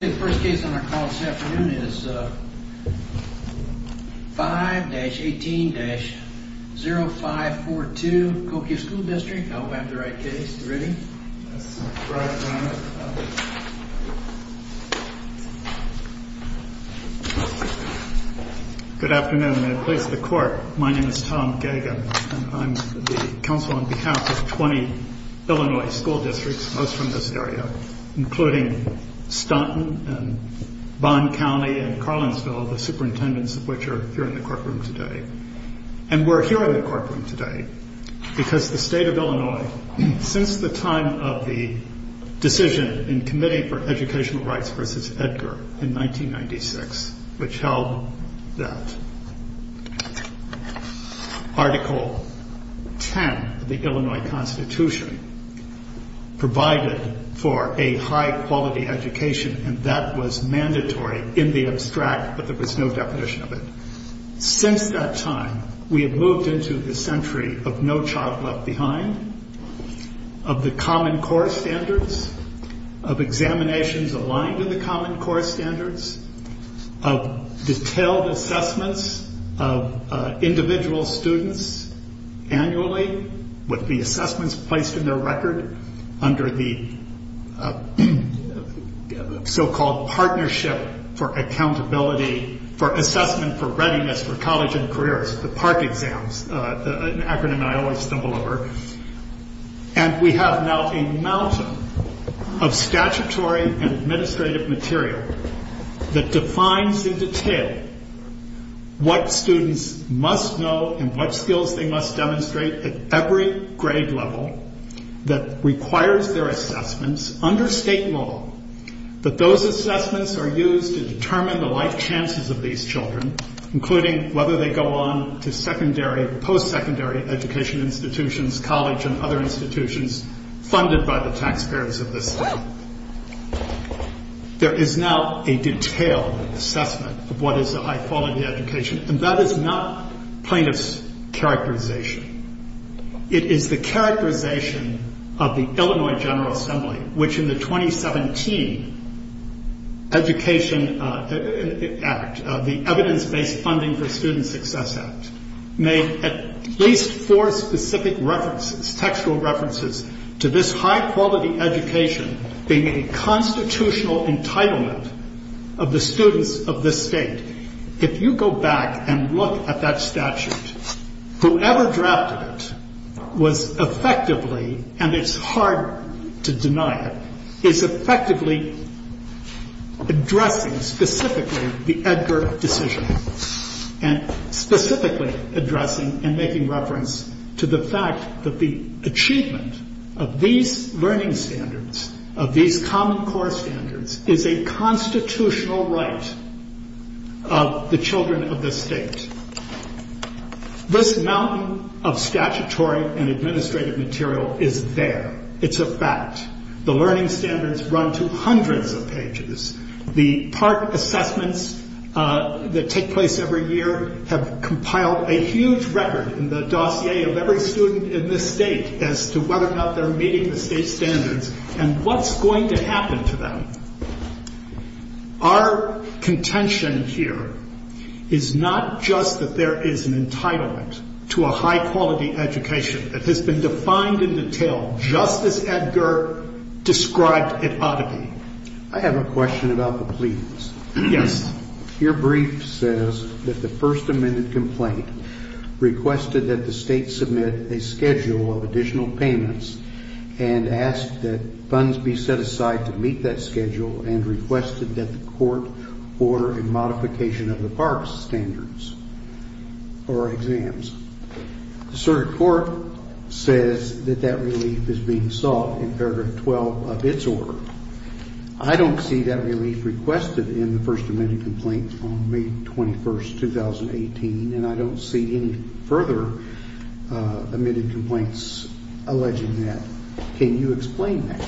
The first case on our call this afternoon is 5-18-0542 Cahokia School District. I hope I have the right case. Are you ready? Good afternoon. In the place of the court, my name is Tom Gage. I'm the counsel on behalf of 20 Illinois school districts, most from this area, including Staunton and Bond County and Carlinsville, the superintendents of which are here in the courtroom today. And we're here in the courtroom today because the state of Illinois, since the time of the decision in Committee for Educational Rights v. Edgar in 1996, which held that Article 10 of the Illinois Constitution provided for a high-quality education, and that was mandatory in the abstract, but there was no definition of it. Since that time, we have moved into the century of No Child Left Behind, of the Common Core Standards, of examinations aligned to the Common Core Standards, of detailed assessments of individual students annually, with the assessments placed in their record under the so-called Partnership for Accountability for Assessment for Readiness for College and Careers, the PARC exams, an acronym I always stumble over. And we have now a mountain of statutory and administrative material that defines in detail what students must know and what skills they must demonstrate at every grade level that requires their assessments under state law. But those assessments are used to determine the life chances of these children, including whether they go on to secondary or post-secondary education institutions, college and other institutions, funded by the taxpayers of this state. There is now a detailed assessment of what is a high-quality education, and that is not plaintiff's characterization. It is the characterization of the Illinois General Assembly, which in the 2017 Education Act, the Evidence-Based Funding for Student Success Act, made at least four specific references, textual references, to this high-quality education being a constitutional entitlement of the students of this state. If you go back and look at that statute, whoever drafted it was effectively, and it's hard to deny it, is effectively addressing specifically the Edgar decision, and specifically addressing and making reference to the fact that the achievement of these learning standards, of these common core standards, is a constitutional right of the children of this state. This mountain of statutory and administrative material is there. It's a fact. The learning standards run to hundreds of pages. The part assessments that take place every year have compiled a huge record in the dossier of every student in this state as to whether or not they're meeting the state standards and what's going to happen to them. Our contention here is not just that there is an entitlement to a high-quality education that has been defined in detail, just as Edgar described it ought to be. I have a question about the pleadings. Yes. Your brief says that the First Amendment complaint requested that the state submit a schedule of additional payments and asked that funds be set aside to meet that schedule, and requested that the court order a modification of the parks standards or exams. The circuit court says that that relief is being sought in paragraph 12 of its order. I don't see that relief requested in the First Amendment complaint from May 21st, 2018, and I don't see any further amended complaints alleging that. Can you explain that?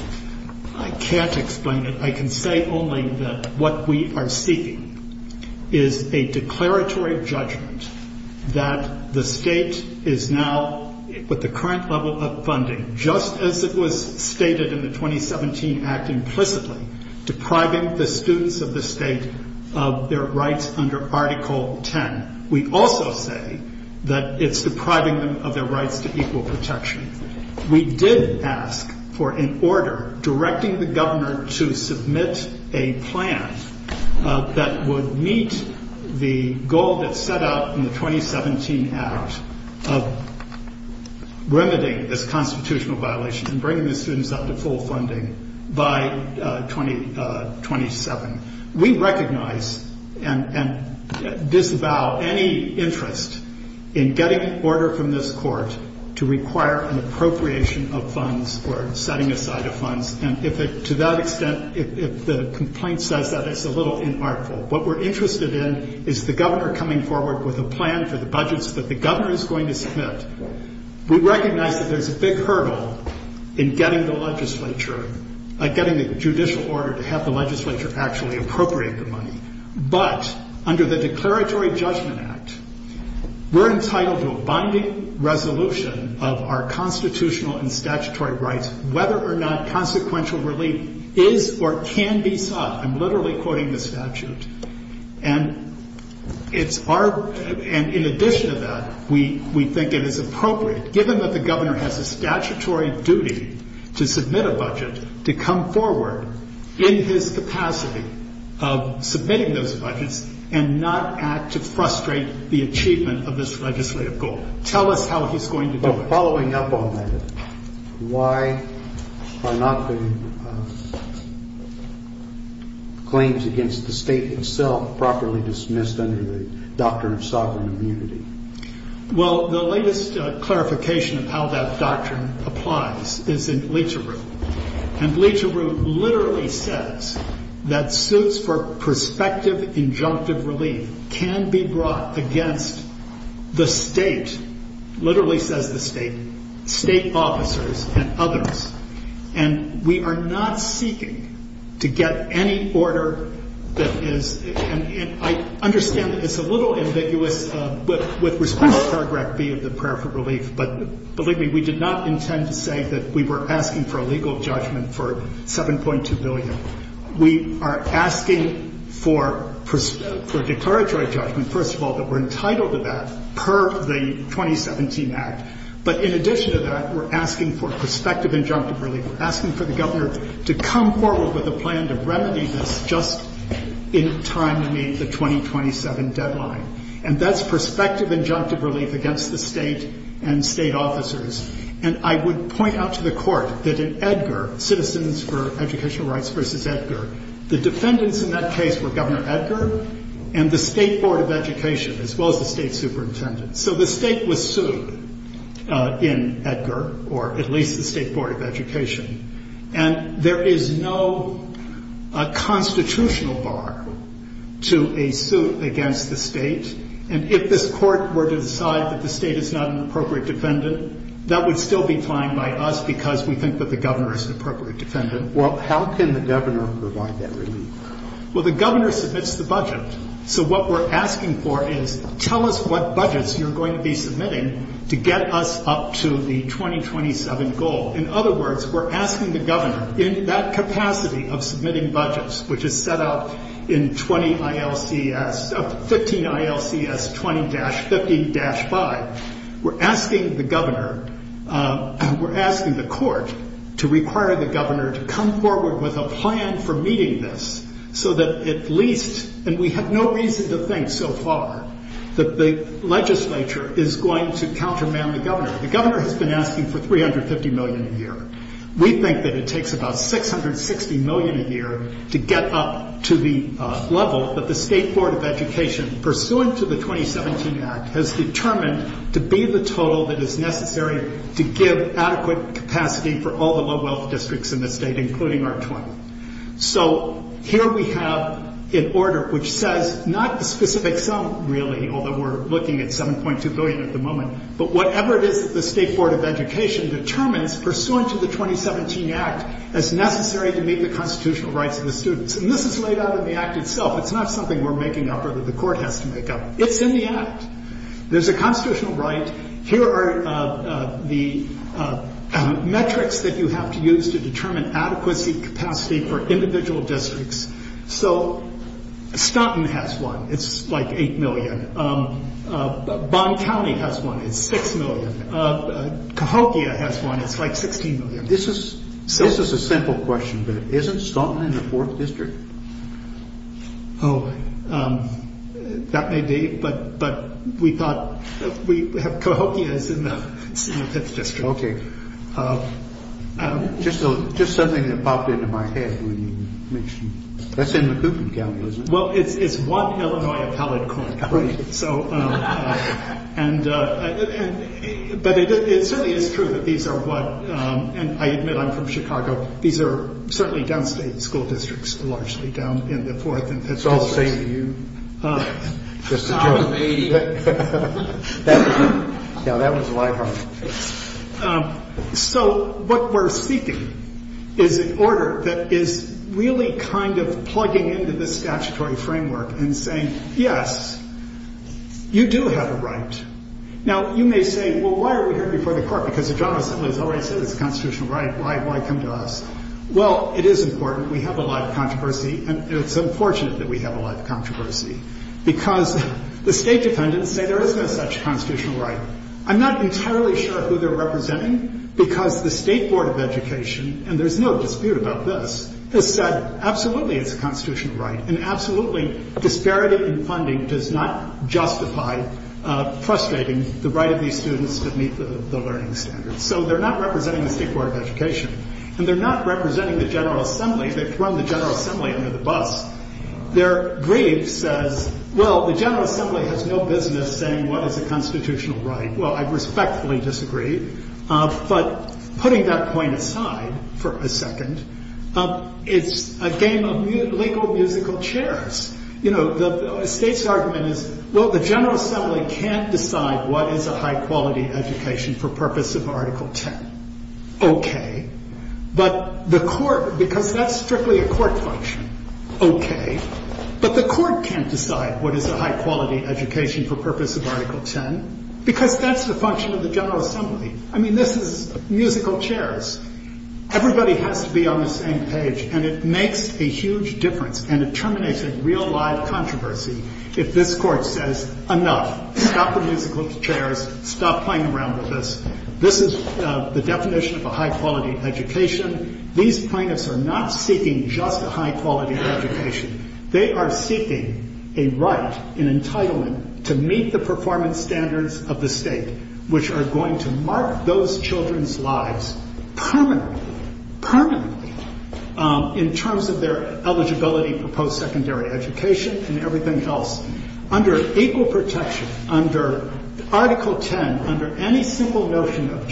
I can't explain it. I can say only that what we are seeking is a declaratory judgment that the state is now, with the current level of funding, just as it was stated in the 2017 Act implicitly, depriving the students of the state of their rights under Article 10. We also say that it's depriving them of their rights to equal protection. We did ask for an order directing the governor to submit a plan that would meet the goal that's set out in the 2017 Act of limiting this constitutional violation and bringing the students up to full funding by 2027. We recognize and disavow any interest in getting an order from this court to require an appropriation of funds or setting aside of funds, and to that extent, if the complaint says that, it's a little inartful. What we're interested in is the governor coming forward with a plan for the budgets that the governor is going to submit. We recognize that there's a big hurdle in getting the legislature, getting the judicial order to have the legislature actually appropriate the money. But under the Declaratory Judgment Act, we're entitled to a binding resolution of our constitutional and statutory rights, whether or not consequential relief is or can be sought. I'm literally quoting the statute. And in addition to that, we think it is appropriate, given that the governor has a statutory duty to submit a budget, to come forward in his capacity of submitting those budgets and not act to frustrate the achievement of this legislative goal. Tell us how he's going to do it. Following up on that, why are not the claims against the state itself properly dismissed under the Doctrine of Sovereign Immunity? Well, the latest clarification of how that doctrine applies is in Leach-a-Root. And Leach-a-Root literally says that suits for prospective injunctive relief can be brought against the state, literally says the state, state officers and others. And we are not seeking to get any order that is – and I understand that it's a little ambiguous with respect to paragraph B of the prayer for relief. But believe me, we did not intend to say that we were asking for a legal judgment for $7.2 billion. We are asking for a declaratory judgment, first of all, that we're entitled to that per the 2017 Act. But in addition to that, we're asking for prospective injunctive relief. We're asking for the governor to come forward with a plan to remedy this just in time to meet the 2027 deadline. And that's prospective injunctive relief against the state and state officers. And I would point out to the Court that in Edgar, Citizens for Educational Rights v. Edgar, the defendants in that case were Governor Edgar and the State Board of Education, as well as the state superintendent. So the state was sued in Edgar, or at least the State Board of Education. And there is no constitutional bar to a suit against the state. And if this Court were to decide that the state is not an appropriate defendant, that would still be fine by us because we think that the governor is an appropriate defendant. Well, how can the governor provide that relief? Well, the governor submits the budget. So what we're asking for is tell us what budgets you're going to be submitting to get us up to the 2027 goal. In other words, we're asking the governor in that capacity of submitting budgets, which is set out in 20 ILCS, 15 ILCS 20-50-5, we're asking the governor, we're asking the Court to require the governor to come forward with a plan for meeting this so that at least, and we have no reason to think so far, that the legislature is going to counterman the governor. The governor has been asking for $350 million a year. We think that it takes about $660 million a year to get up to the level that the State Board of Education, pursuant to the 2017 Act, has determined to be the total that is necessary to give adequate capacity for all the low-wealth districts in the state, including our 20. So here we have an order which says not the specific sum, really, although we're looking at $7.2 billion at the moment, but whatever it is that the State Board of Education determines, pursuant to the 2017 Act, as necessary to meet the constitutional rights of the students. And this is laid out in the Act itself. It's not something we're making up or that the Court has to make up. It's in the Act. There's a constitutional right. Here are the metrics that you have to use to determine adequacy capacity for individual districts. So Staunton has one. It's like $8 million. Bond County has one. It's $6 million. Cahokia has one. It's like $16 million. This is a simple question, but isn't Staunton in the 4th District? Oh, that may be, but we thought Cahokia is in the 5th District. Okay. Just something that popped into my head when you mentioned it. That's in the Coopman County, isn't it? Well, it's one Illinois appellate court. Right. But it certainly is true that these are what, and I admit I'm from Chicago, these are certainly downstate school districts, largely down in the 4th and 5th Districts. It's all safe to you. Just a joke. Now, that was a lie. So what we're seeking is an order that is really kind of plugging into the statutory framework and saying, yes, you do have a right. Now, you may say, well, why are we here before the court? Because the General Assembly has already said it's a constitutional right. Why come to us? Well, it is important. We have a lot of controversy, and it's unfortunate that we have a lot of controversy because the state defendants say there is no such constitutional right. I'm not entirely sure who they're representing because the State Board of Education, and there's no dispute about this, has said absolutely it's a constitutional right and absolutely disparity in funding does not justify frustrating the right of these students to meet the learning standards. So they're not representing the State Board of Education, and they're not representing the General Assembly. They've run the General Assembly under the bus. Their brief says, well, the General Assembly has no business saying what is a constitutional right. Well, I respectfully disagree. But putting that point aside for a second, it's a game of legal musical chairs. You know, the State's argument is, well, the General Assembly can't decide what is a high-quality education for purpose of Article 10. Okay. But the court, because that's strictly a court function. Okay. But the court can't decide what is a high-quality education for purpose of Article 10 because that's the function of the General Assembly. I mean, this is musical chairs. Everybody has to be on the same page, and it makes a huge difference and it terminates a real, live controversy if this Court says, enough, stop the musical chairs, stop playing around with this. This is the definition of a high-quality education. These plaintiffs are not seeking just a high-quality education. They are seeking a right, an entitlement to meet the performance standards of the State which are going to mark those children's lives permanently, permanently, in terms of their eligibility for post-secondary education and everything else. Under equal protection, under Article 10, under any simple notion of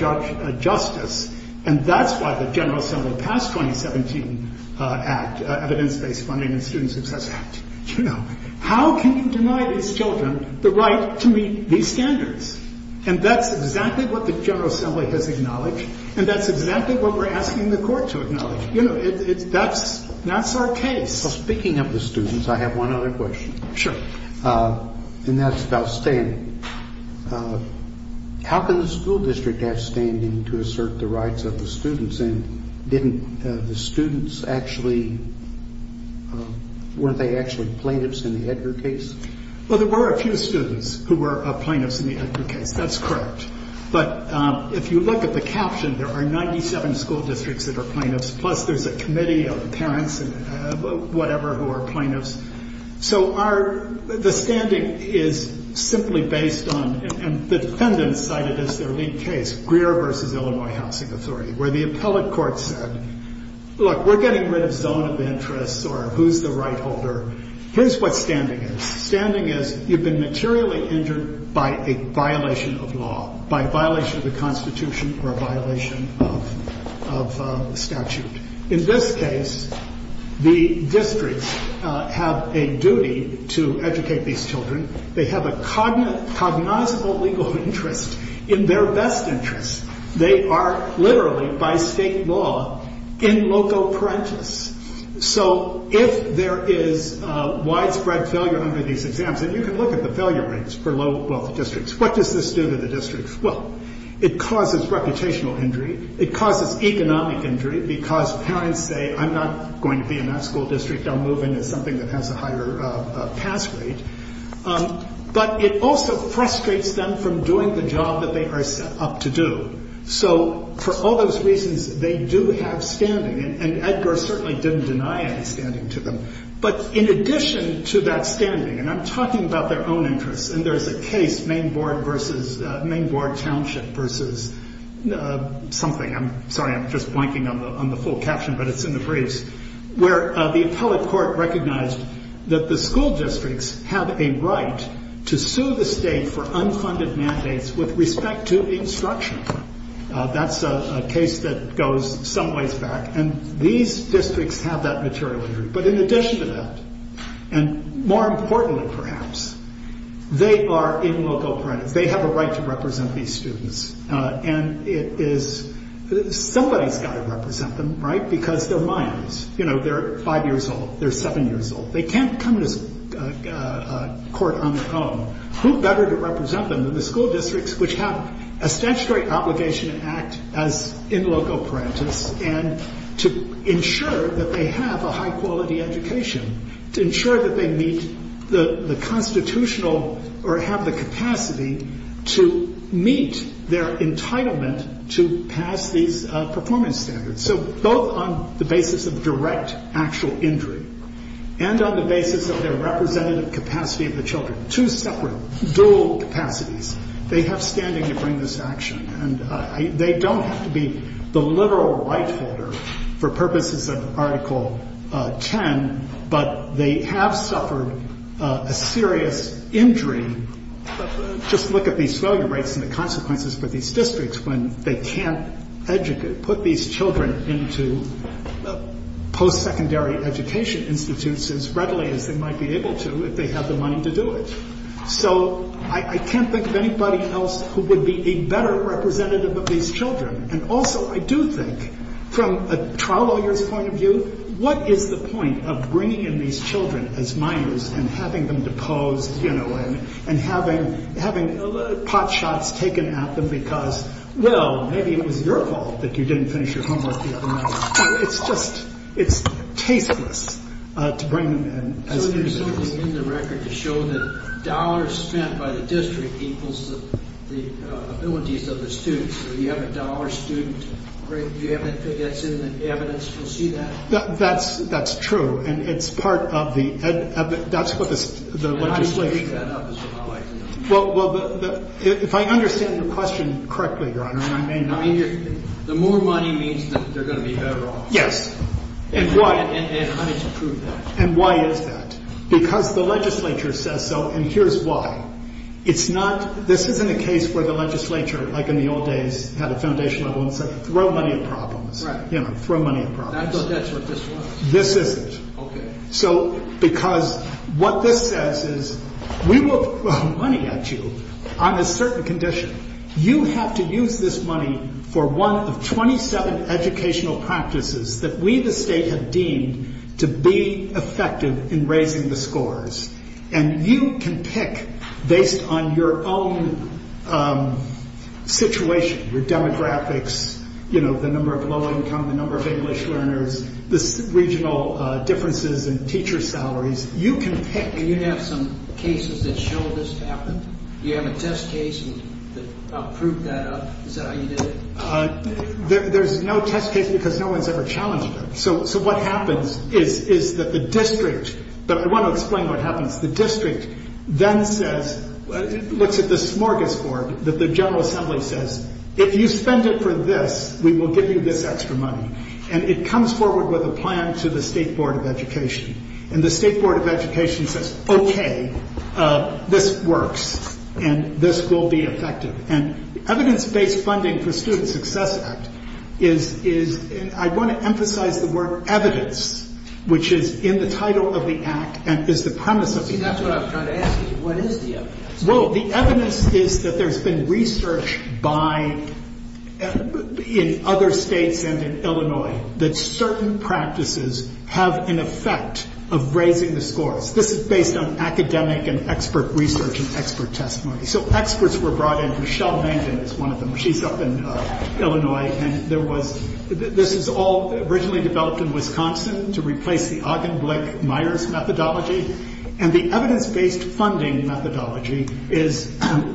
justice, and that's why the General Assembly passed 2017 Act, Evidence-Based Funding and Student Success Act. How can you deny these children the right to meet these standards? And that's exactly what the General Assembly has acknowledged, and that's exactly what we're asking the Court to acknowledge. That's our case. Speaking of the students, I have one other question. Sure. And that's about standing. How can the school district have standing to assert the rights of the students? And didn't the students actually, weren't they actually plaintiffs in the Edgar case? Well, there were a few students who were plaintiffs in the Edgar case. That's correct. But if you look at the caption, there are 97 school districts that are plaintiffs, plus there's a committee of parents and whatever who are plaintiffs. So the standing is simply based on, and the defendants cited as their lead case, Greer v. Illinois Housing Authority, where the appellate court said, Look, we're getting rid of zone of interest or who's the right holder. Here's what standing is. Standing is you've been materially injured by a violation of law, by a violation of the Constitution or a violation of statute. In this case, the districts have a duty to educate these children. They have a cognizable legal interest in their best interest. They are literally, by state law, in loco parentis. So if there is widespread failure under these exams, and you can look at the failure rates for low-wealth districts, what does this do to the districts? Well, it causes reputational injury. It causes economic injury because parents say, I'm not going to be in that school district. I'll move into something that has a higher pass rate. But it also frustrates them from doing the job that they are set up to do. So for all those reasons, they do have standing, and Edgar certainly didn't deny any standing to them. But in addition to that standing, and I'm talking about their own interests, and there's a case, Main Board Township versus something, I'm sorry, I'm just blanking on the full caption, but it's in the briefs, where the appellate court recognized that the school districts have a right to sue the state for unfunded mandates with respect to instruction. That's a case that goes some ways back, and these districts have that material injury. But in addition to that, and more importantly perhaps, they are in loco parentis. They have a right to represent these students, and somebody's got to represent them, right? Because they're Mayans. They're five years old. They're seven years old. They can't come to court on their own. Who better to represent them than the school districts, which have a statutory obligation to act as in loco parentis, and to ensure that they have a high-quality education, to ensure that they meet the constitutional or have the capacity to meet their entitlement to pass these performance standards. So both on the basis of direct actual injury and on the basis of their representative capacity of the children, two separate dual capacities, they have standing to bring this action, and they don't have to be the literal right holder for purposes of Article 10, but they have suffered a serious injury. Just look at these failure rates and the consequences for these districts when they can't educate, put these children into post-secondary education institutes as readily as they might be able to if they have the money to do it. So I can't think of anybody else who would be a better representative of these children. And also I do think, from a trial lawyer's point of view, what is the point of bringing in these children as minors and having them deposed, you know, and having pot shots taken at them because, well, maybe it was your fault that you didn't finish your homework the other night. It's just tasteless to bring them in as minors. So there's something in the record to show that dollars spent by the district equals the abilities of the students. So you have a dollar student, do you think that's in the evidence? Do you see that? That's true, and it's part of the legislation. Well, if I understand your question correctly, Your Honor, the more money means that they're going to be better off. Yes. And I need to prove that. And why is that? Because the legislature says so, and here's why. This isn't a case where the legislature, like in the old days, had a foundation level and said, throw money at problems. Throw money at problems. I thought that's what this was. This isn't. OK. So because what this says is, we will throw money at you on a certain condition. You have to use this money for one of 27 educational practices that we the state have deemed to be effective in raising the scores. And you can pick based on your own situation, your demographics, the number of low income, the number of English learners, the regional differences in teacher salaries. You can pick. And you have some cases that show this happened? You have a test case that proved that up? Is that how you did it? There's no test case because no one's ever challenged it. So what happens is that the district, but I want to explain what happens. The district then says, looks at the smorgasbord that the General Assembly says, if you spend it for this, we will give you this extra money. And it comes forward with a plan to the State Board of Education. And the State Board of Education says, OK, this works. And this will be effective. And evidence-based funding for Student Success Act is, I want to emphasize the word evidence, which is in the title of the act and is the premise of the act. See, that's what I was trying to ask you. What is the evidence? Well, the evidence is that there's been research in other states and in Illinois that certain practices have an effect of raising the scores. This is based on academic and expert research and expert testimony. So experts were brought in. Michelle Mangdon is one of them. She's up in Illinois. And this is all originally developed in Wisconsin to replace the Augenblick-Meyers methodology. And the evidence-based funding methodology is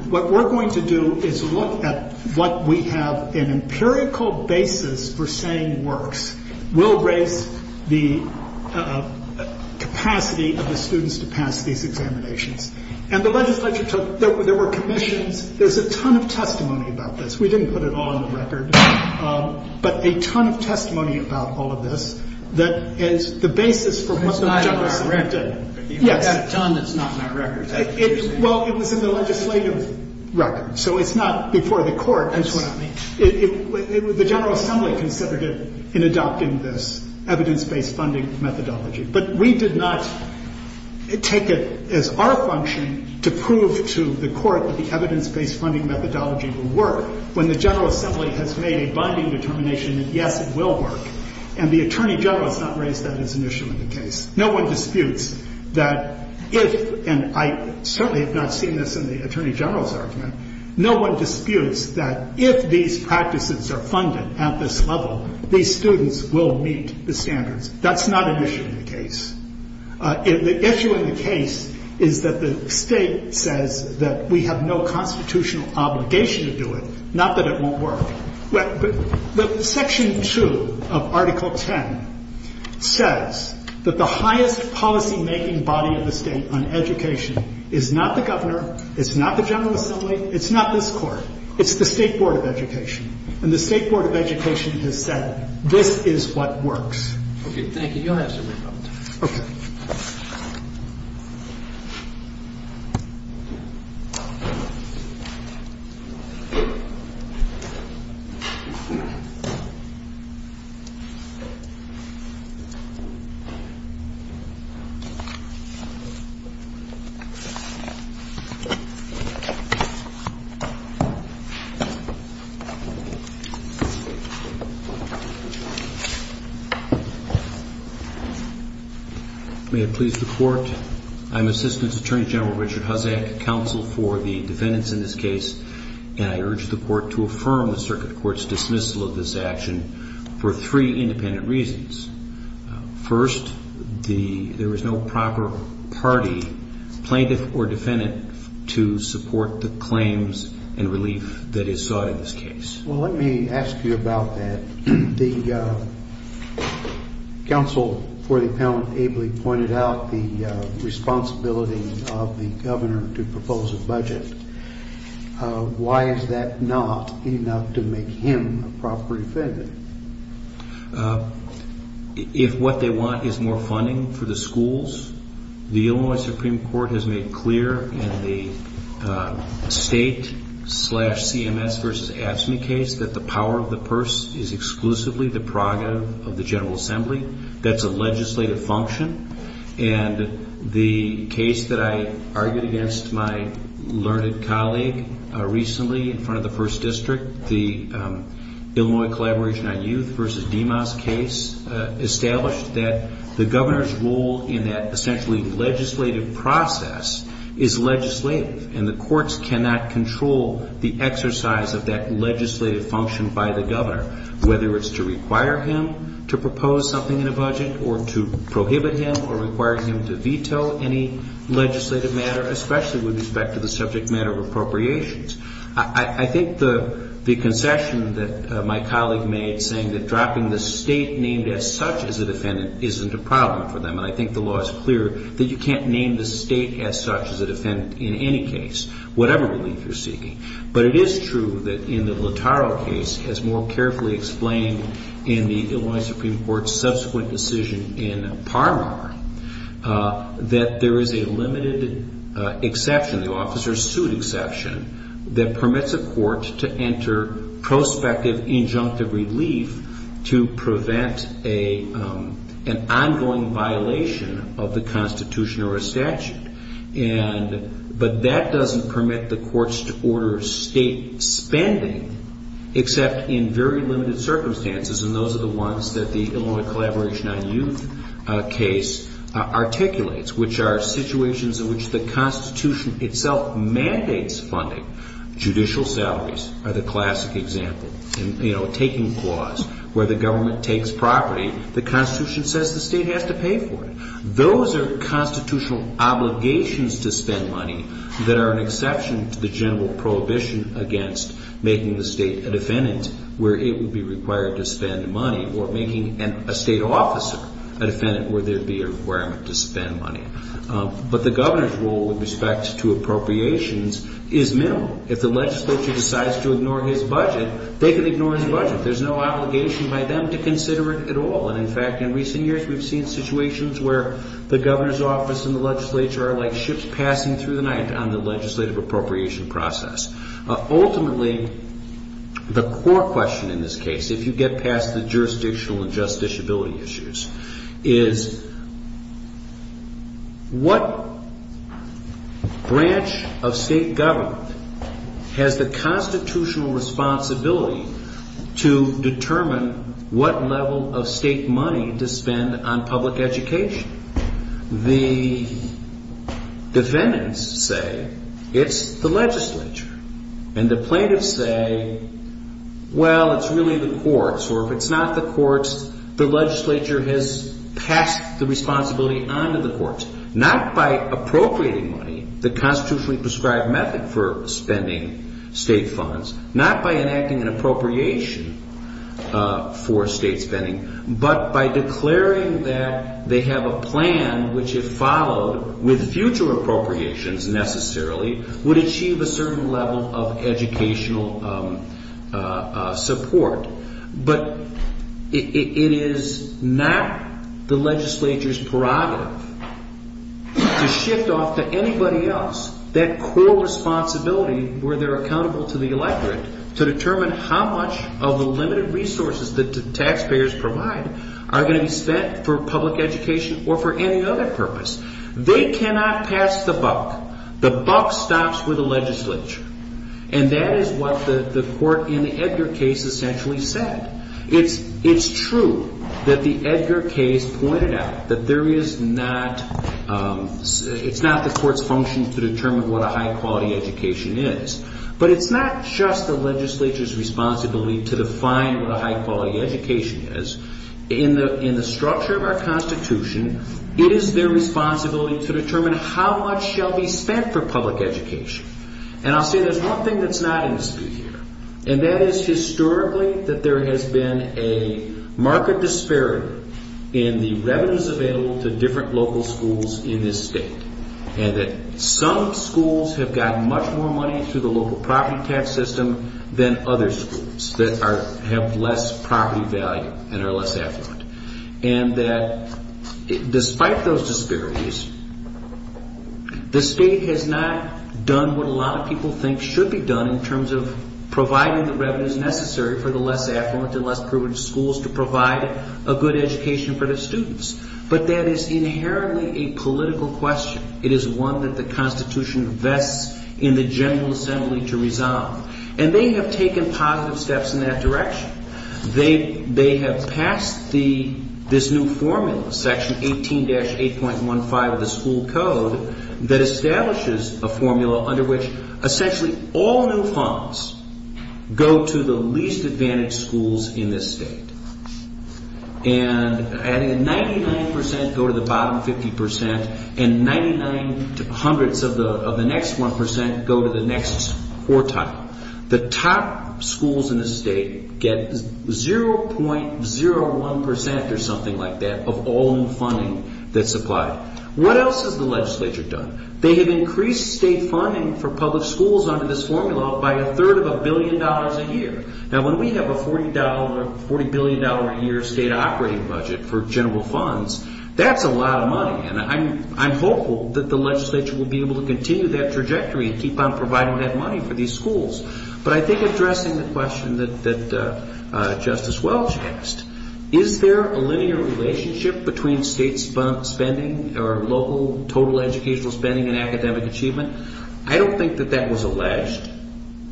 what we're going to do is look at what we have an empirical basis for saying works will raise the capacity of the students to pass these examinations. And the legislature took, there were commissions. There's a ton of testimony about this. We didn't put it all on the record. But a ton of testimony about all of this that is the basis for what the general assembly did. But you have a ton that's not on our record. Well, it was in the legislative record. So it's not before the court. That's what I mean. The General Assembly considered it in adopting this evidence-based funding methodology. But we did not take it as our function to prove to the court that the evidence-based funding methodology will work when the General Assembly has made a binding determination that, yes, it will work. And the attorney general has not raised that as an issue in the case. No one disputes that if, and I certainly have not seen this in the attorney general's argument, no one disputes that if these practices are funded at this level, these students will meet the standards. That's not an issue in the case. The issue in the case is that the state says that we have no constitutional obligation to do it, not that it won't work. But Section 2 of Article 10 says that the highest policymaking body of the state on education is not the governor, it's not the General Assembly, it's not this court. It's the State Board of Education. And the State Board of Education has said, this is what works. OK, thank you. You'll have to rebut. OK. Thank you. May I please report? I'm Assistant Attorney General Richard Hussack, counsel for the defendants in this case. And I urge the court to affirm the circuit court's dismissal of this action for three independent reasons. First, there is no proper party, plaintiff or defendant, to support the claims and relief that is sought in this case. Well, let me ask you about that. The counsel for the appellant ably pointed out the responsibility of the governor to propose a budget. Why is that not enough to make him a proper defendant? If what they want is more funding for the schools, the Illinois Supreme Court has made clear in the state slash CMS versus AFSCME case that the power of the purse is exclusively the prerogative of the General Assembly. That's a legislative function. And the case that I argued against my learned colleague recently in front of the first district, the Illinois Collaboration on Youth versus DEMAS case, established that the governor's role in that essentially legislative process is legislative. And the courts cannot control the exercise of that legislative function by the governor, whether it's to require him to propose something in a budget or to prohibit him or require him to veto any legislative matter, especially with respect to the subject matter of appropriations. I think the concession that my colleague made, saying that dropping the state named as such as a defendant isn't a problem for them, and I think the law is clear, that you can't name the state as such as a defendant in any case, whatever relief you're seeking. But it is true that in the Lotaro case, as more carefully explained in the Illinois Supreme Court's subsequent decision in Parmar, that there is a limited exception, the officer's suit exception, that permits a court to enter prospective injunctive relief to prevent an ongoing violation of the Constitution or a statute. But that doesn't permit the courts to order state spending, except in very limited circumstances, and those are the ones that the Illinois Collaboration on Youth case articulates, which are situations in which the Constitution itself mandates funding. Judicial salaries are the classic example. In a taking clause where the government takes property, the Constitution says the state has to pay for it. Those are constitutional obligations to spend money that are an exception to the general prohibition against making the state a defendant where it would be required to spend money, or making a state officer a defendant where there would be a requirement to spend money. But the governor's role with respect to appropriations is minimal. If the legislature decides to ignore his budget, they can ignore his budget. There's no obligation by them to consider it at all. And, in fact, in recent years, we've seen situations where the governor's office and the legislature are like ships passing through the night on the legislative appropriation process. Ultimately, the core question in this case, if you get past the jurisdictional and justiciability issues, is what branch of state government has the constitutional responsibility to determine what level of state money to spend on public education? The defendants say it's the legislature. And the plaintiffs say, well, it's really the courts. Or if it's not the courts, the legislature has passed the responsibility on to the courts, not by appropriating money, the constitutionally prescribed method for spending state funds, not by enacting an appropriation for state spending, but by declaring that they have a plan which, if followed with future appropriations necessarily, would achieve a certain level of educational support. But it is not the legislature's prerogative to shift off to anybody else that core responsibility where they're accountable to the electorate to determine how much of the limited resources that the taxpayers provide are going to be spent for public education or for any other purpose. They cannot pass the buck. The buck stops with the legislature. And that is what the court in the Edgar case essentially said. It's true that the Edgar case pointed out that it's not the court's function to determine what a high-quality education is. But it's not just the legislature's responsibility to define what a high-quality education is. In the structure of our constitution, it is their responsibility to determine how much shall be spent for public education. And I'll say there's one thing that's not in dispute here, and that is historically that there has been a marked disparity in the revenues available to different local schools in this state, and that some schools have gotten much more money through the local property tax system than other schools that have less property value and are less affluent. And that despite those disparities, the state has not done what a lot of people think should be done in terms of providing the revenues necessary for the less affluent and less privileged schools to provide a good education for their students. But that is inherently a political question. It is one that the Constitution vests in the General Assembly to resolve. And they have taken positive steps in that direction. They have passed this new formula, Section 18-8.15 of the school code, that establishes a formula under which essentially all new funds go to the least-advantaged schools in this state. And 99% go to the bottom 50%, and 99 hundredths of the next 1% go to the next quartile. The top schools in the state get 0.01% or something like that of all new funding that's supplied. What else has the legislature done? They have increased state funding for public schools under this formula by a third of a billion dollars a year. Now, when we have a $40 billion-a-year state operating budget for general funds, that's a lot of money. And I'm hopeful that the legislature will be able to continue that trajectory and keep on providing that money for these schools. But I think addressing the question that Justice Welch asked, is there a linear relationship between state spending or local total educational spending and academic achievement? I don't think that that was alleged.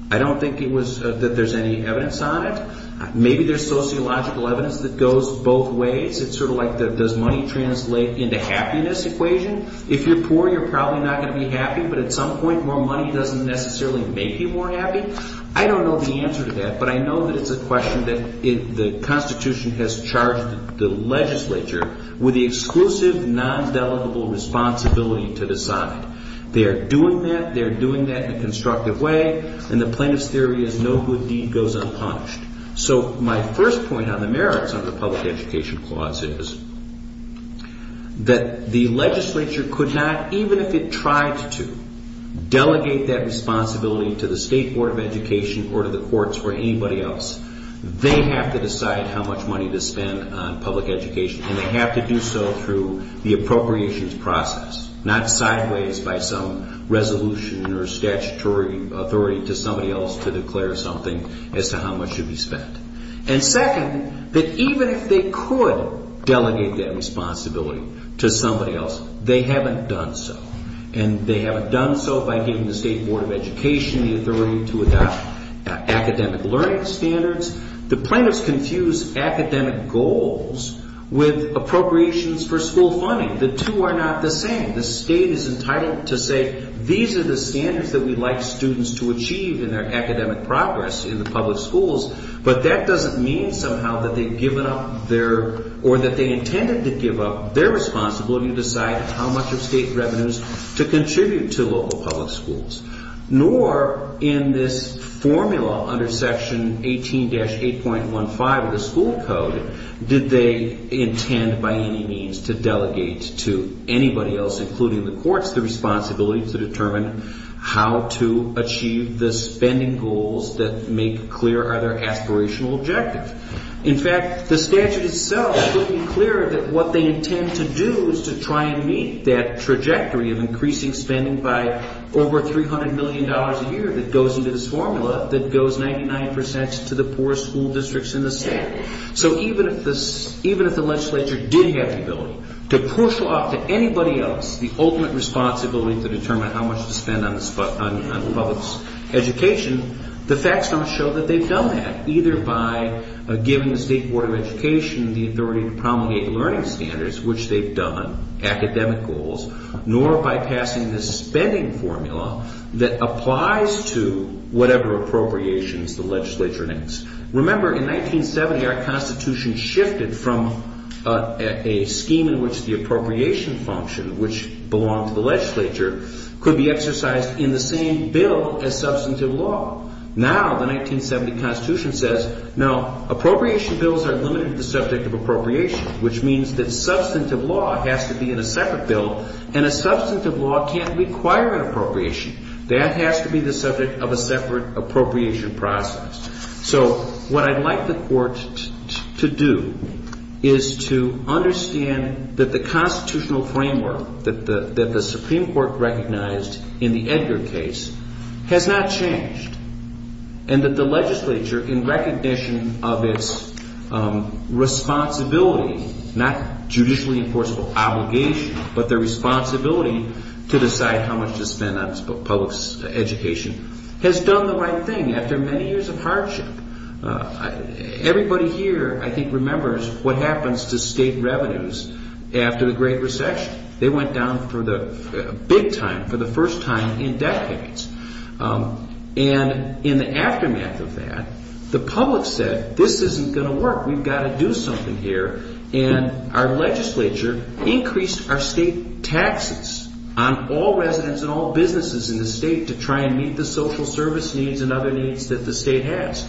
I don't think that there's any evidence on it. Maybe there's sociological evidence that goes both ways. It's sort of like, does money translate into happiness equation? If you're poor, you're probably not going to be happy, but at some point, more money doesn't necessarily make you more happy. I don't know the answer to that, but I know that it's a question that the Constitution has charged the legislature with the exclusive, non-delegable responsibility to decide. They are doing that, they are doing that in a constructive way, and the plaintiff's theory is no good deed goes unpunished. So my first point on the merits of the public education clause is that the legislature could not, even if it tried to, delegate that responsibility to the State Board of Education or to the courts or anybody else. They have to decide how much money to spend on public education, and they have to do so through the appropriations process, not sideways by some resolution or statutory authority to somebody else to declare something as to how much should be spent. And second, that even if they could delegate that responsibility to somebody else, they haven't done so, and they haven't done so by giving the State Board of Education the authority to adopt academic learning standards. The plaintiffs confuse academic goals with appropriations for school funding. The two are not the same. The state is entitled to say, these are the standards that we'd like students to achieve in their academic progress in the public schools, but that doesn't mean somehow that they've given up their or that they intended to give up their responsibility to decide how much of state revenues to contribute to local public schools. Nor in this formula under Section 18-8.15 of the school code did they intend by any means to delegate to anybody else, including the courts, the responsibility to determine how to achieve the spending goals that make clear other aspirational objectives. In fact, the statute itself made it clear that what they intend to do is to try and meet that trajectory of increasing spending by over $300 million a year that goes into this formula that goes 99% to the poorest school districts in the state. So even if the legislature did have the ability to push off to anybody else the ultimate responsibility to determine how much to spend on public education, the facts don't show that they've done that. Either by giving the State Board of Education the authority to promulgate learning standards, which they've done, academic goals, nor by passing this spending formula that applies to whatever appropriations the legislature needs. Remember, in 1970, our Constitution shifted from a scheme in which the appropriation function, which belonged to the legislature, could be exercised in the same bill as substantive law. Now the 1970 Constitution says, now appropriation bills are limited to the subject of appropriation, which means that substantive law has to be in a separate bill and a substantive law can't require an appropriation. That has to be the subject of a separate appropriation process. So what I'd like the court to do is to understand that the constitutional framework that the Supreme Court recognized in the Edgar case has not changed, and that the legislature, in recognition of its responsibility, not judicially enforceable obligation, but the responsibility to decide how much to spend on public education, has done the right thing after many years of hardship. Everybody here, I think, remembers what happens to state revenues after the Great Recession. They went down for the big time, for the first time in decades. And in the aftermath of that, the public said, this isn't going to work, we've got to do something here, and our legislature increased our state taxes on all residents and all businesses in the state to try and meet the social service needs and other needs that the state has.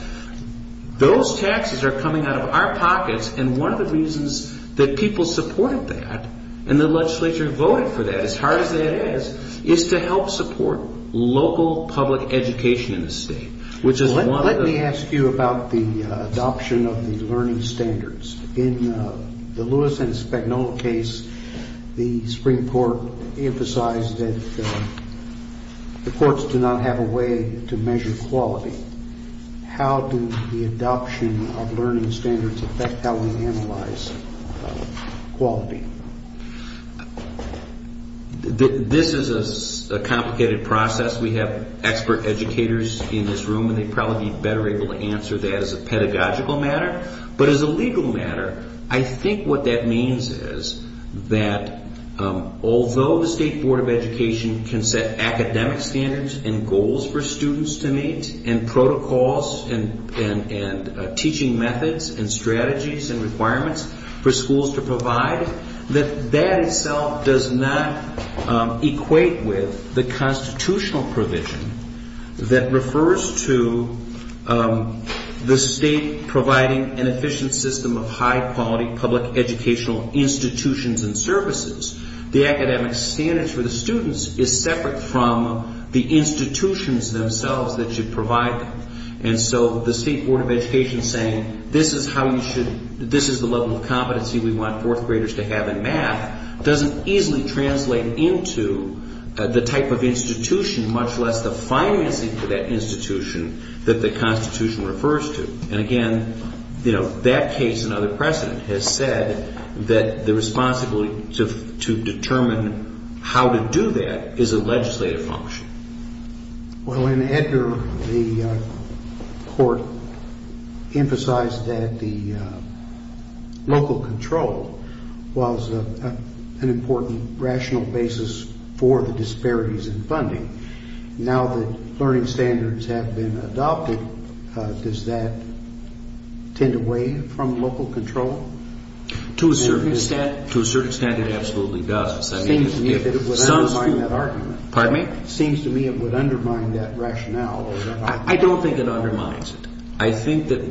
Those taxes are coming out of our pockets, and one of the reasons that people supported that, and the legislature voted for that as hard as that is, is to help support local public education in the state, which is one of the... Let me ask you about the adoption of the learning standards. In the Lewis and Spagnola case, the Supreme Court emphasized that the courts do not have a way to measure quality. How do the adoption of learning standards affect how we analyze quality? This is a complicated process. We have expert educators in this room, and they'd probably be better able to answer that as a pedagogical matter, but as a legal matter, I think what that means is that although the State Board of Education can set academic standards and goals for students to meet, and protocols and teaching methods and strategies and requirements for schools to provide, that that itself does not equate with the constitutional provision that refers to the state providing an efficient system of high-quality public educational institutions and services. The academic standards for the students is separate from the institutions themselves that should provide them. And so the State Board of Education saying, this is the level of competency we want fourth graders to have in math, doesn't easily translate into the type of institution, much less the financing for that institution, that the Constitution refers to. And again, that case and other precedent has said that the responsibility to determine how to do that is a legislative function. Well, in Edgar, the court emphasized that the local control was an important rational basis for the disparities in funding. Now that learning standards have been adopted, does that tend away from local control? To a certain extent, it absolutely does. It seems to me it would undermine that argument. Pardon me? It seems to me it would undermine that rationale. I don't think it undermines it. I think that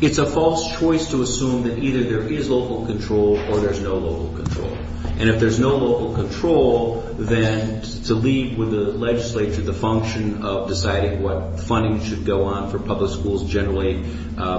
it's a false choice to assume that either there is local control or there's no local control. And if there's no local control, then to leave with the legislature the function of deciding what funding should go on for public schools generally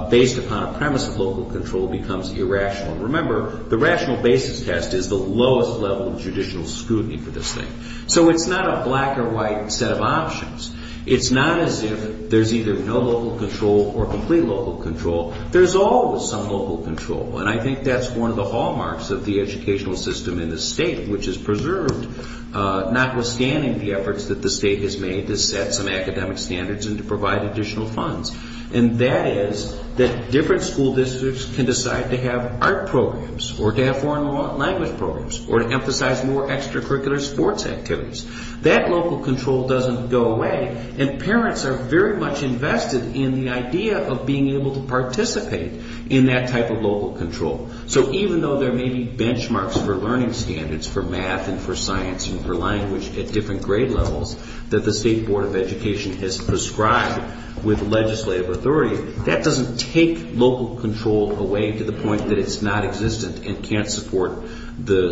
based upon a premise of local control becomes irrational. Remember, the rational basis test is the lowest level of judicial scrutiny for this thing. So it's not a black or white set of options. It's not as if there's either no local control or complete local control. There's always some local control, and I think that's one of the hallmarks of the educational system in the state, which is preserved, notwithstanding the efforts that the state has made to set some academic standards and to provide additional funds. And that is that different school districts can decide to have art programs or to have foreign language programs or to emphasize more extracurricular sports activities. That local control doesn't go away, and parents are very much invested in the idea of being able to participate in that type of local control. So even though there may be benchmarks for learning standards for math and for science and for language at different grade levels that the State Board of Education has prescribed with legislative authority, that doesn't take local control away to the point that it's not existent and can't support the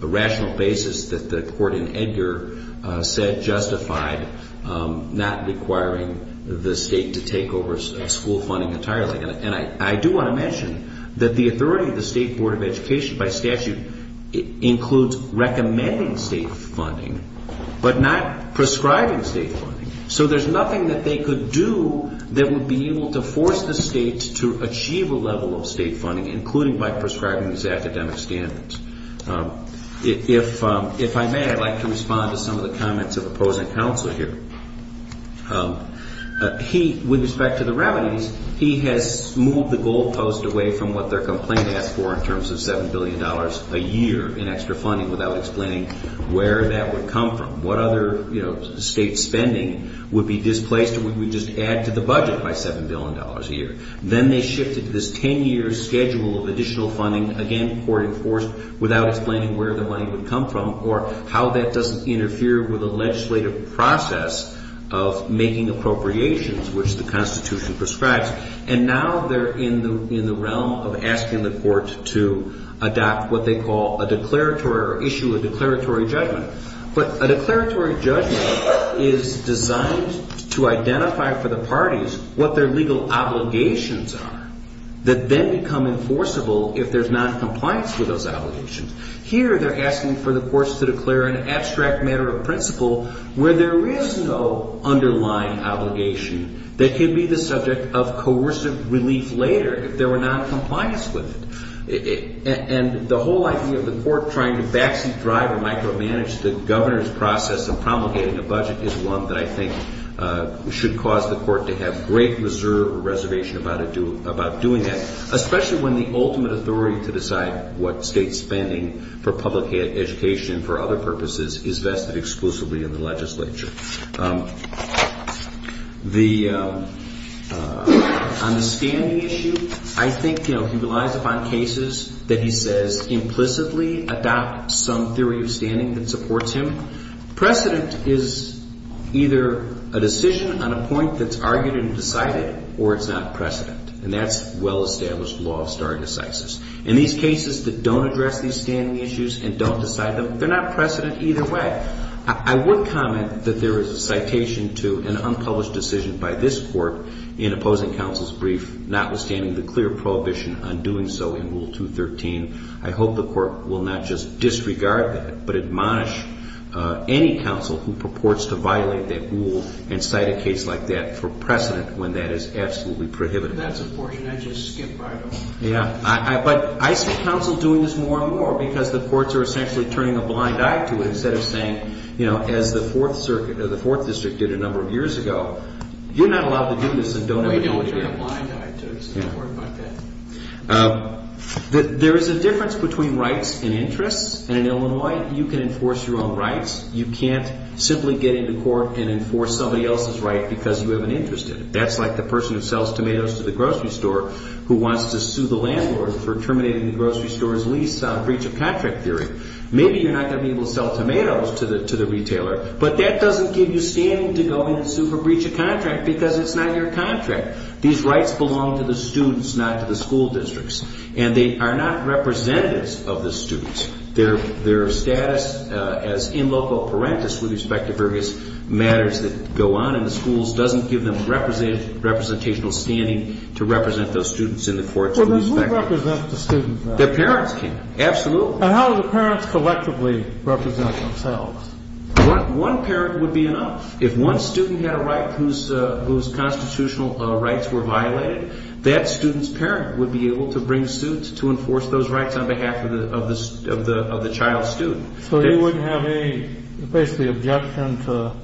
rational basis that the court in Edgar said justified, not requiring the state to take over school funding entirely. And I do want to mention that the authority of the State Board of Education, by statute, includes recommending state funding, but not prescribing state funding. So there's nothing that they could do that would be able to force the state to achieve a level of state funding, including by prescribing these academic standards. If I may, I'd like to respond to some of the comments of opposing counsel here. With respect to the remedies, he has moved the goalpost away from what their complaint asked for in terms of $7 billion a year in extra funding without explaining where that would come from, what other state spending would be displaced or would we just add to the budget by $7 billion a year. Then they shifted this 10-year schedule of additional funding, again, court-enforced without explaining where the money would come from or how that doesn't interfere with the legislative process of making appropriations, which the Constitution prescribes. And now they're in the realm of asking the court to adopt what they call a declaratory or issue a declaratory judgment. But a declaratory judgment is designed to identify for the parties what their legal obligations are that then become enforceable if there's noncompliance with those obligations. Here they're asking for the courts to declare an abstract matter of principle where there is no underlying obligation that could be the subject of coercive relief later if there were noncompliance with it. And the whole idea of the court trying to backseat drive or micromanage the governor's process and promulgating a budget is one that I think should cause the court to have great reserve or reservation about doing that, especially when the ultimate authority to decide what state spending for public education and for other purposes is vested exclusively in the legislature. On the standing issue, I think, you know, he relies upon cases that he says implicitly adopt some theory of standing that supports him. Precedent is either a decision on a point that's argued and decided or it's not precedent. And that's well-established law of stare decisis. And these cases that don't address these standing issues and don't decide them, they're not precedent either way. I would comment that there is a citation to an unpublished decision by this court in opposing counsel's brief notwithstanding the clear prohibition on doing so in Rule 213. I hope the court will not just disregard that but admonish any counsel who purports to violate that rule and cite a case like that for precedent when that is absolutely prohibitive. That's a portion I just skipped right off. Yeah, but I see counsel doing this more and more because the courts are essentially turning a blind eye to it instead of saying, you know, as the Fourth Circuit or the Fourth District did a number of years ago, you're not allowed to do this and don't ever do it again. There is a difference between rights and interests. And in Illinois, you can enforce your own rights. You can't simply get into court and enforce somebody else's right because you have an interest in it. That's like the person who sells tomatoes to the grocery store who wants to sue the landlord for terminating the grocery store's lease on breach of contract theory. Maybe you're not going to be able to sell tomatoes to the retailer, but that doesn't give you standing to go in and sue for breach of contract because it's not your contract. These rights belong to the students, not to the school districts. And they are not representatives of the students. Their status as in loco parentis with respect to various matters that go on in the schools doesn't give them representational standing to represent those students in the courts. Well, then who represents the students? Their parents can. Absolutely. And how do the parents collectively represent themselves? One parent would be enough. If one student had a right whose constitutional rights were violated, that student's parent would be able to bring suits to enforce those rights on behalf of the child's student. So you wouldn't have any, basically, objection to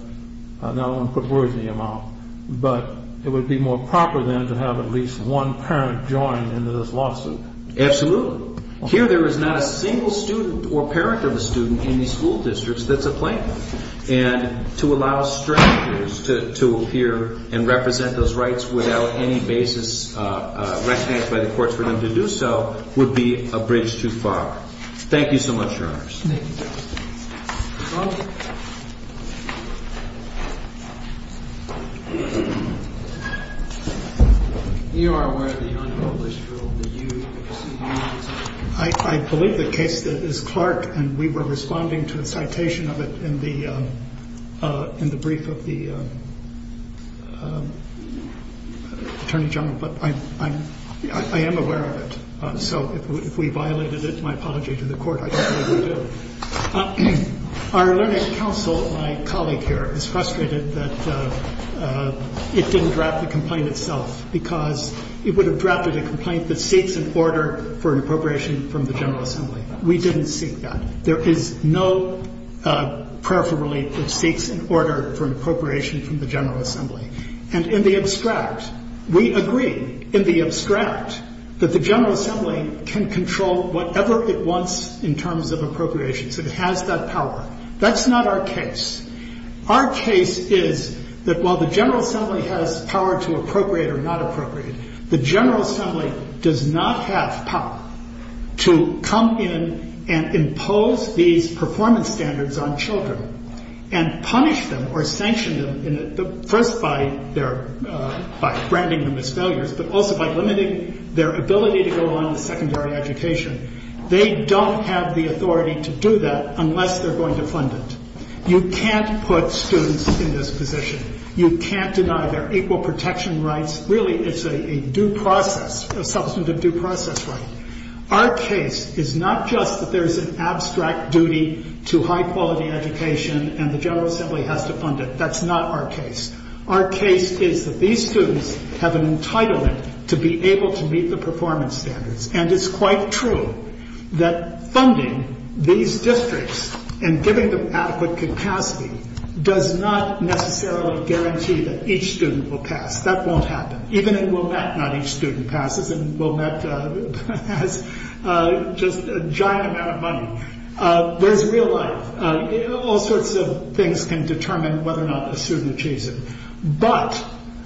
not only put words in your mouth, but it would be more proper then to have at least one parent join into this lawsuit. Absolutely. Here there is not a single student or parent of a student in these school districts that's a plaintiff. And to allow strangers to appear and represent those rights without any basis recognized by the courts for them to do so would be a bridge too far. Thank you so much, Your Honors. Thank you, Justice. Your Honor. You are aware of the unpublished rule, the U.C.U. I believe the case is Clark, and we were responding to a citation of it in the brief of the Attorney General. But I am aware of it. So if we violated it, my apology to the Court. Our learning council, my colleague here, is frustrated that it didn't draft the complaint itself because it would have drafted a complaint that seeks an order for appropriation from the General Assembly. We didn't seek that. There is no peripheral that seeks an order for appropriation from the General Assembly. And in the abstract, we agree in the abstract that the General Assembly can control whatever it wants in terms of appropriations. It has that power. That's not our case. Our case is that while the General Assembly has power to appropriate or not appropriate, the General Assembly does not have power to come in and impose these performance standards on children and punish them or sanction them, first by branding them as failures, but also by limiting their ability to go on with secondary education. They don't have the authority to do that unless they're going to fund it. You can't put students in this position. You can't deny their equal protection rights. Really, it's a due process, a substantive due process right. Our case is not just that there's an abstract duty to high-quality education and the General Assembly has to fund it. That's not our case. Our case is that these students have an entitlement to be able to meet the performance standards. And it's quite true that funding these districts and giving them adequate capacity does not necessarily guarantee that each student will pass. That won't happen. Even at Wilmette, not each student passes, and Wilmette has just a giant amount of money. There's real life. All sorts of things can determine whether or not a student achieves it. But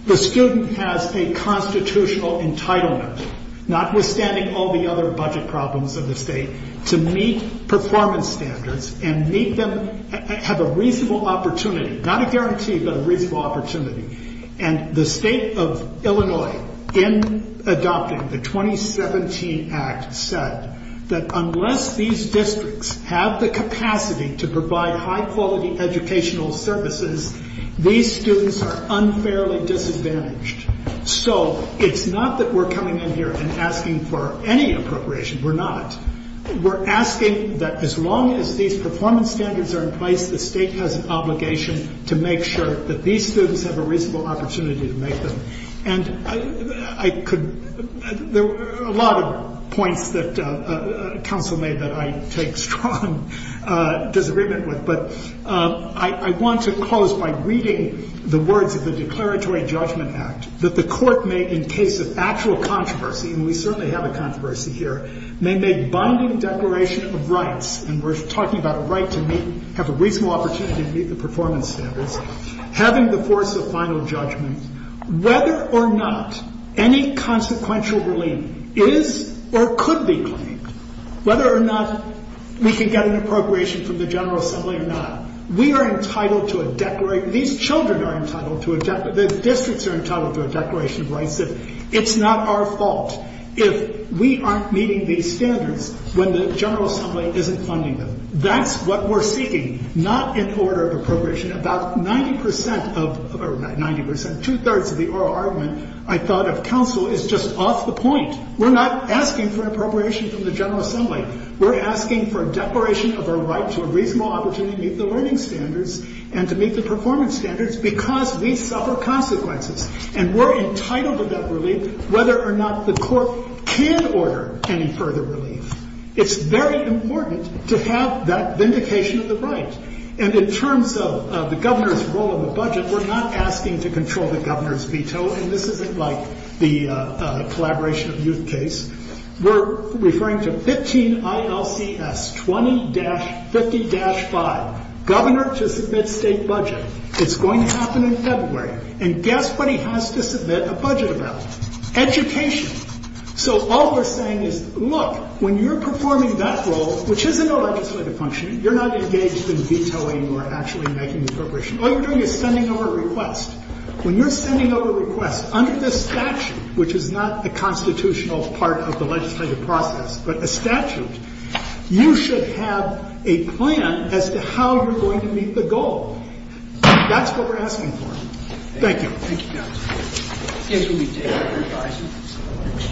the student has a constitutional entitlement, notwithstanding all the other budget problems of the state, to meet performance standards and meet them, have a reasonable opportunity, not a guarantee, but a reasonable opportunity. And the state of Illinois, in adopting the 2017 Act, said that unless these districts have the capacity to provide high-quality educational services, these students are unfairly disadvantaged. So it's not that we're coming in here and asking for any appropriation. We're not. We're asking that as long as these performance standards are in place, the state has an obligation to make sure that these students have a reasonable opportunity to make them. And there were a lot of points that counsel made that I take strong disagreement with. But I want to close by reading the words of the Declaratory Judgment Act, that the court may, in case of actual controversy, and we certainly have a controversy here, may make binding declaration of rights, and we're talking about a right to have a reasonable opportunity to meet the performance standards, having the force of final judgment. Whether or not any consequential relief is or could be claimed, whether or not we can get an appropriation from the General Assembly or not, we are entitled to a declaration. These children are entitled to a declaration. The districts are entitled to a declaration of rights. It's not our fault if we aren't meeting these standards when the General Assembly isn't funding them. That's what we're seeking, not an order of appropriation. About 90 percent of or 90 percent, two-thirds of the oral argument, I thought, of counsel is just off the point. We're not asking for appropriation from the General Assembly. We're asking for a declaration of a right to a reasonable opportunity to meet the learning standards and to meet the performance standards because we suffer consequences. And we're entitled to that relief whether or not the court can order any further relief. It's very important to have that vindication of the right. And in terms of the governor's role in the budget, we're not asking to control the governor's veto, and this isn't like the collaboration of youth case. We're referring to 15 ILCS 20-50-5, governor to submit state budget. It's going to happen in February. And guess what he has to submit a budget about? Education. So all we're saying is, look, when you're performing that role, which isn't a legislative function, you're not engaged in vetoing or actually making appropriation. All you're doing is sending over a request. When you're sending over a request under this statute, which is not a constitutional part of the legislative process, but a statute, you should have a plan as to how you're going to meet the goal. That's what we're asking for. Thank you.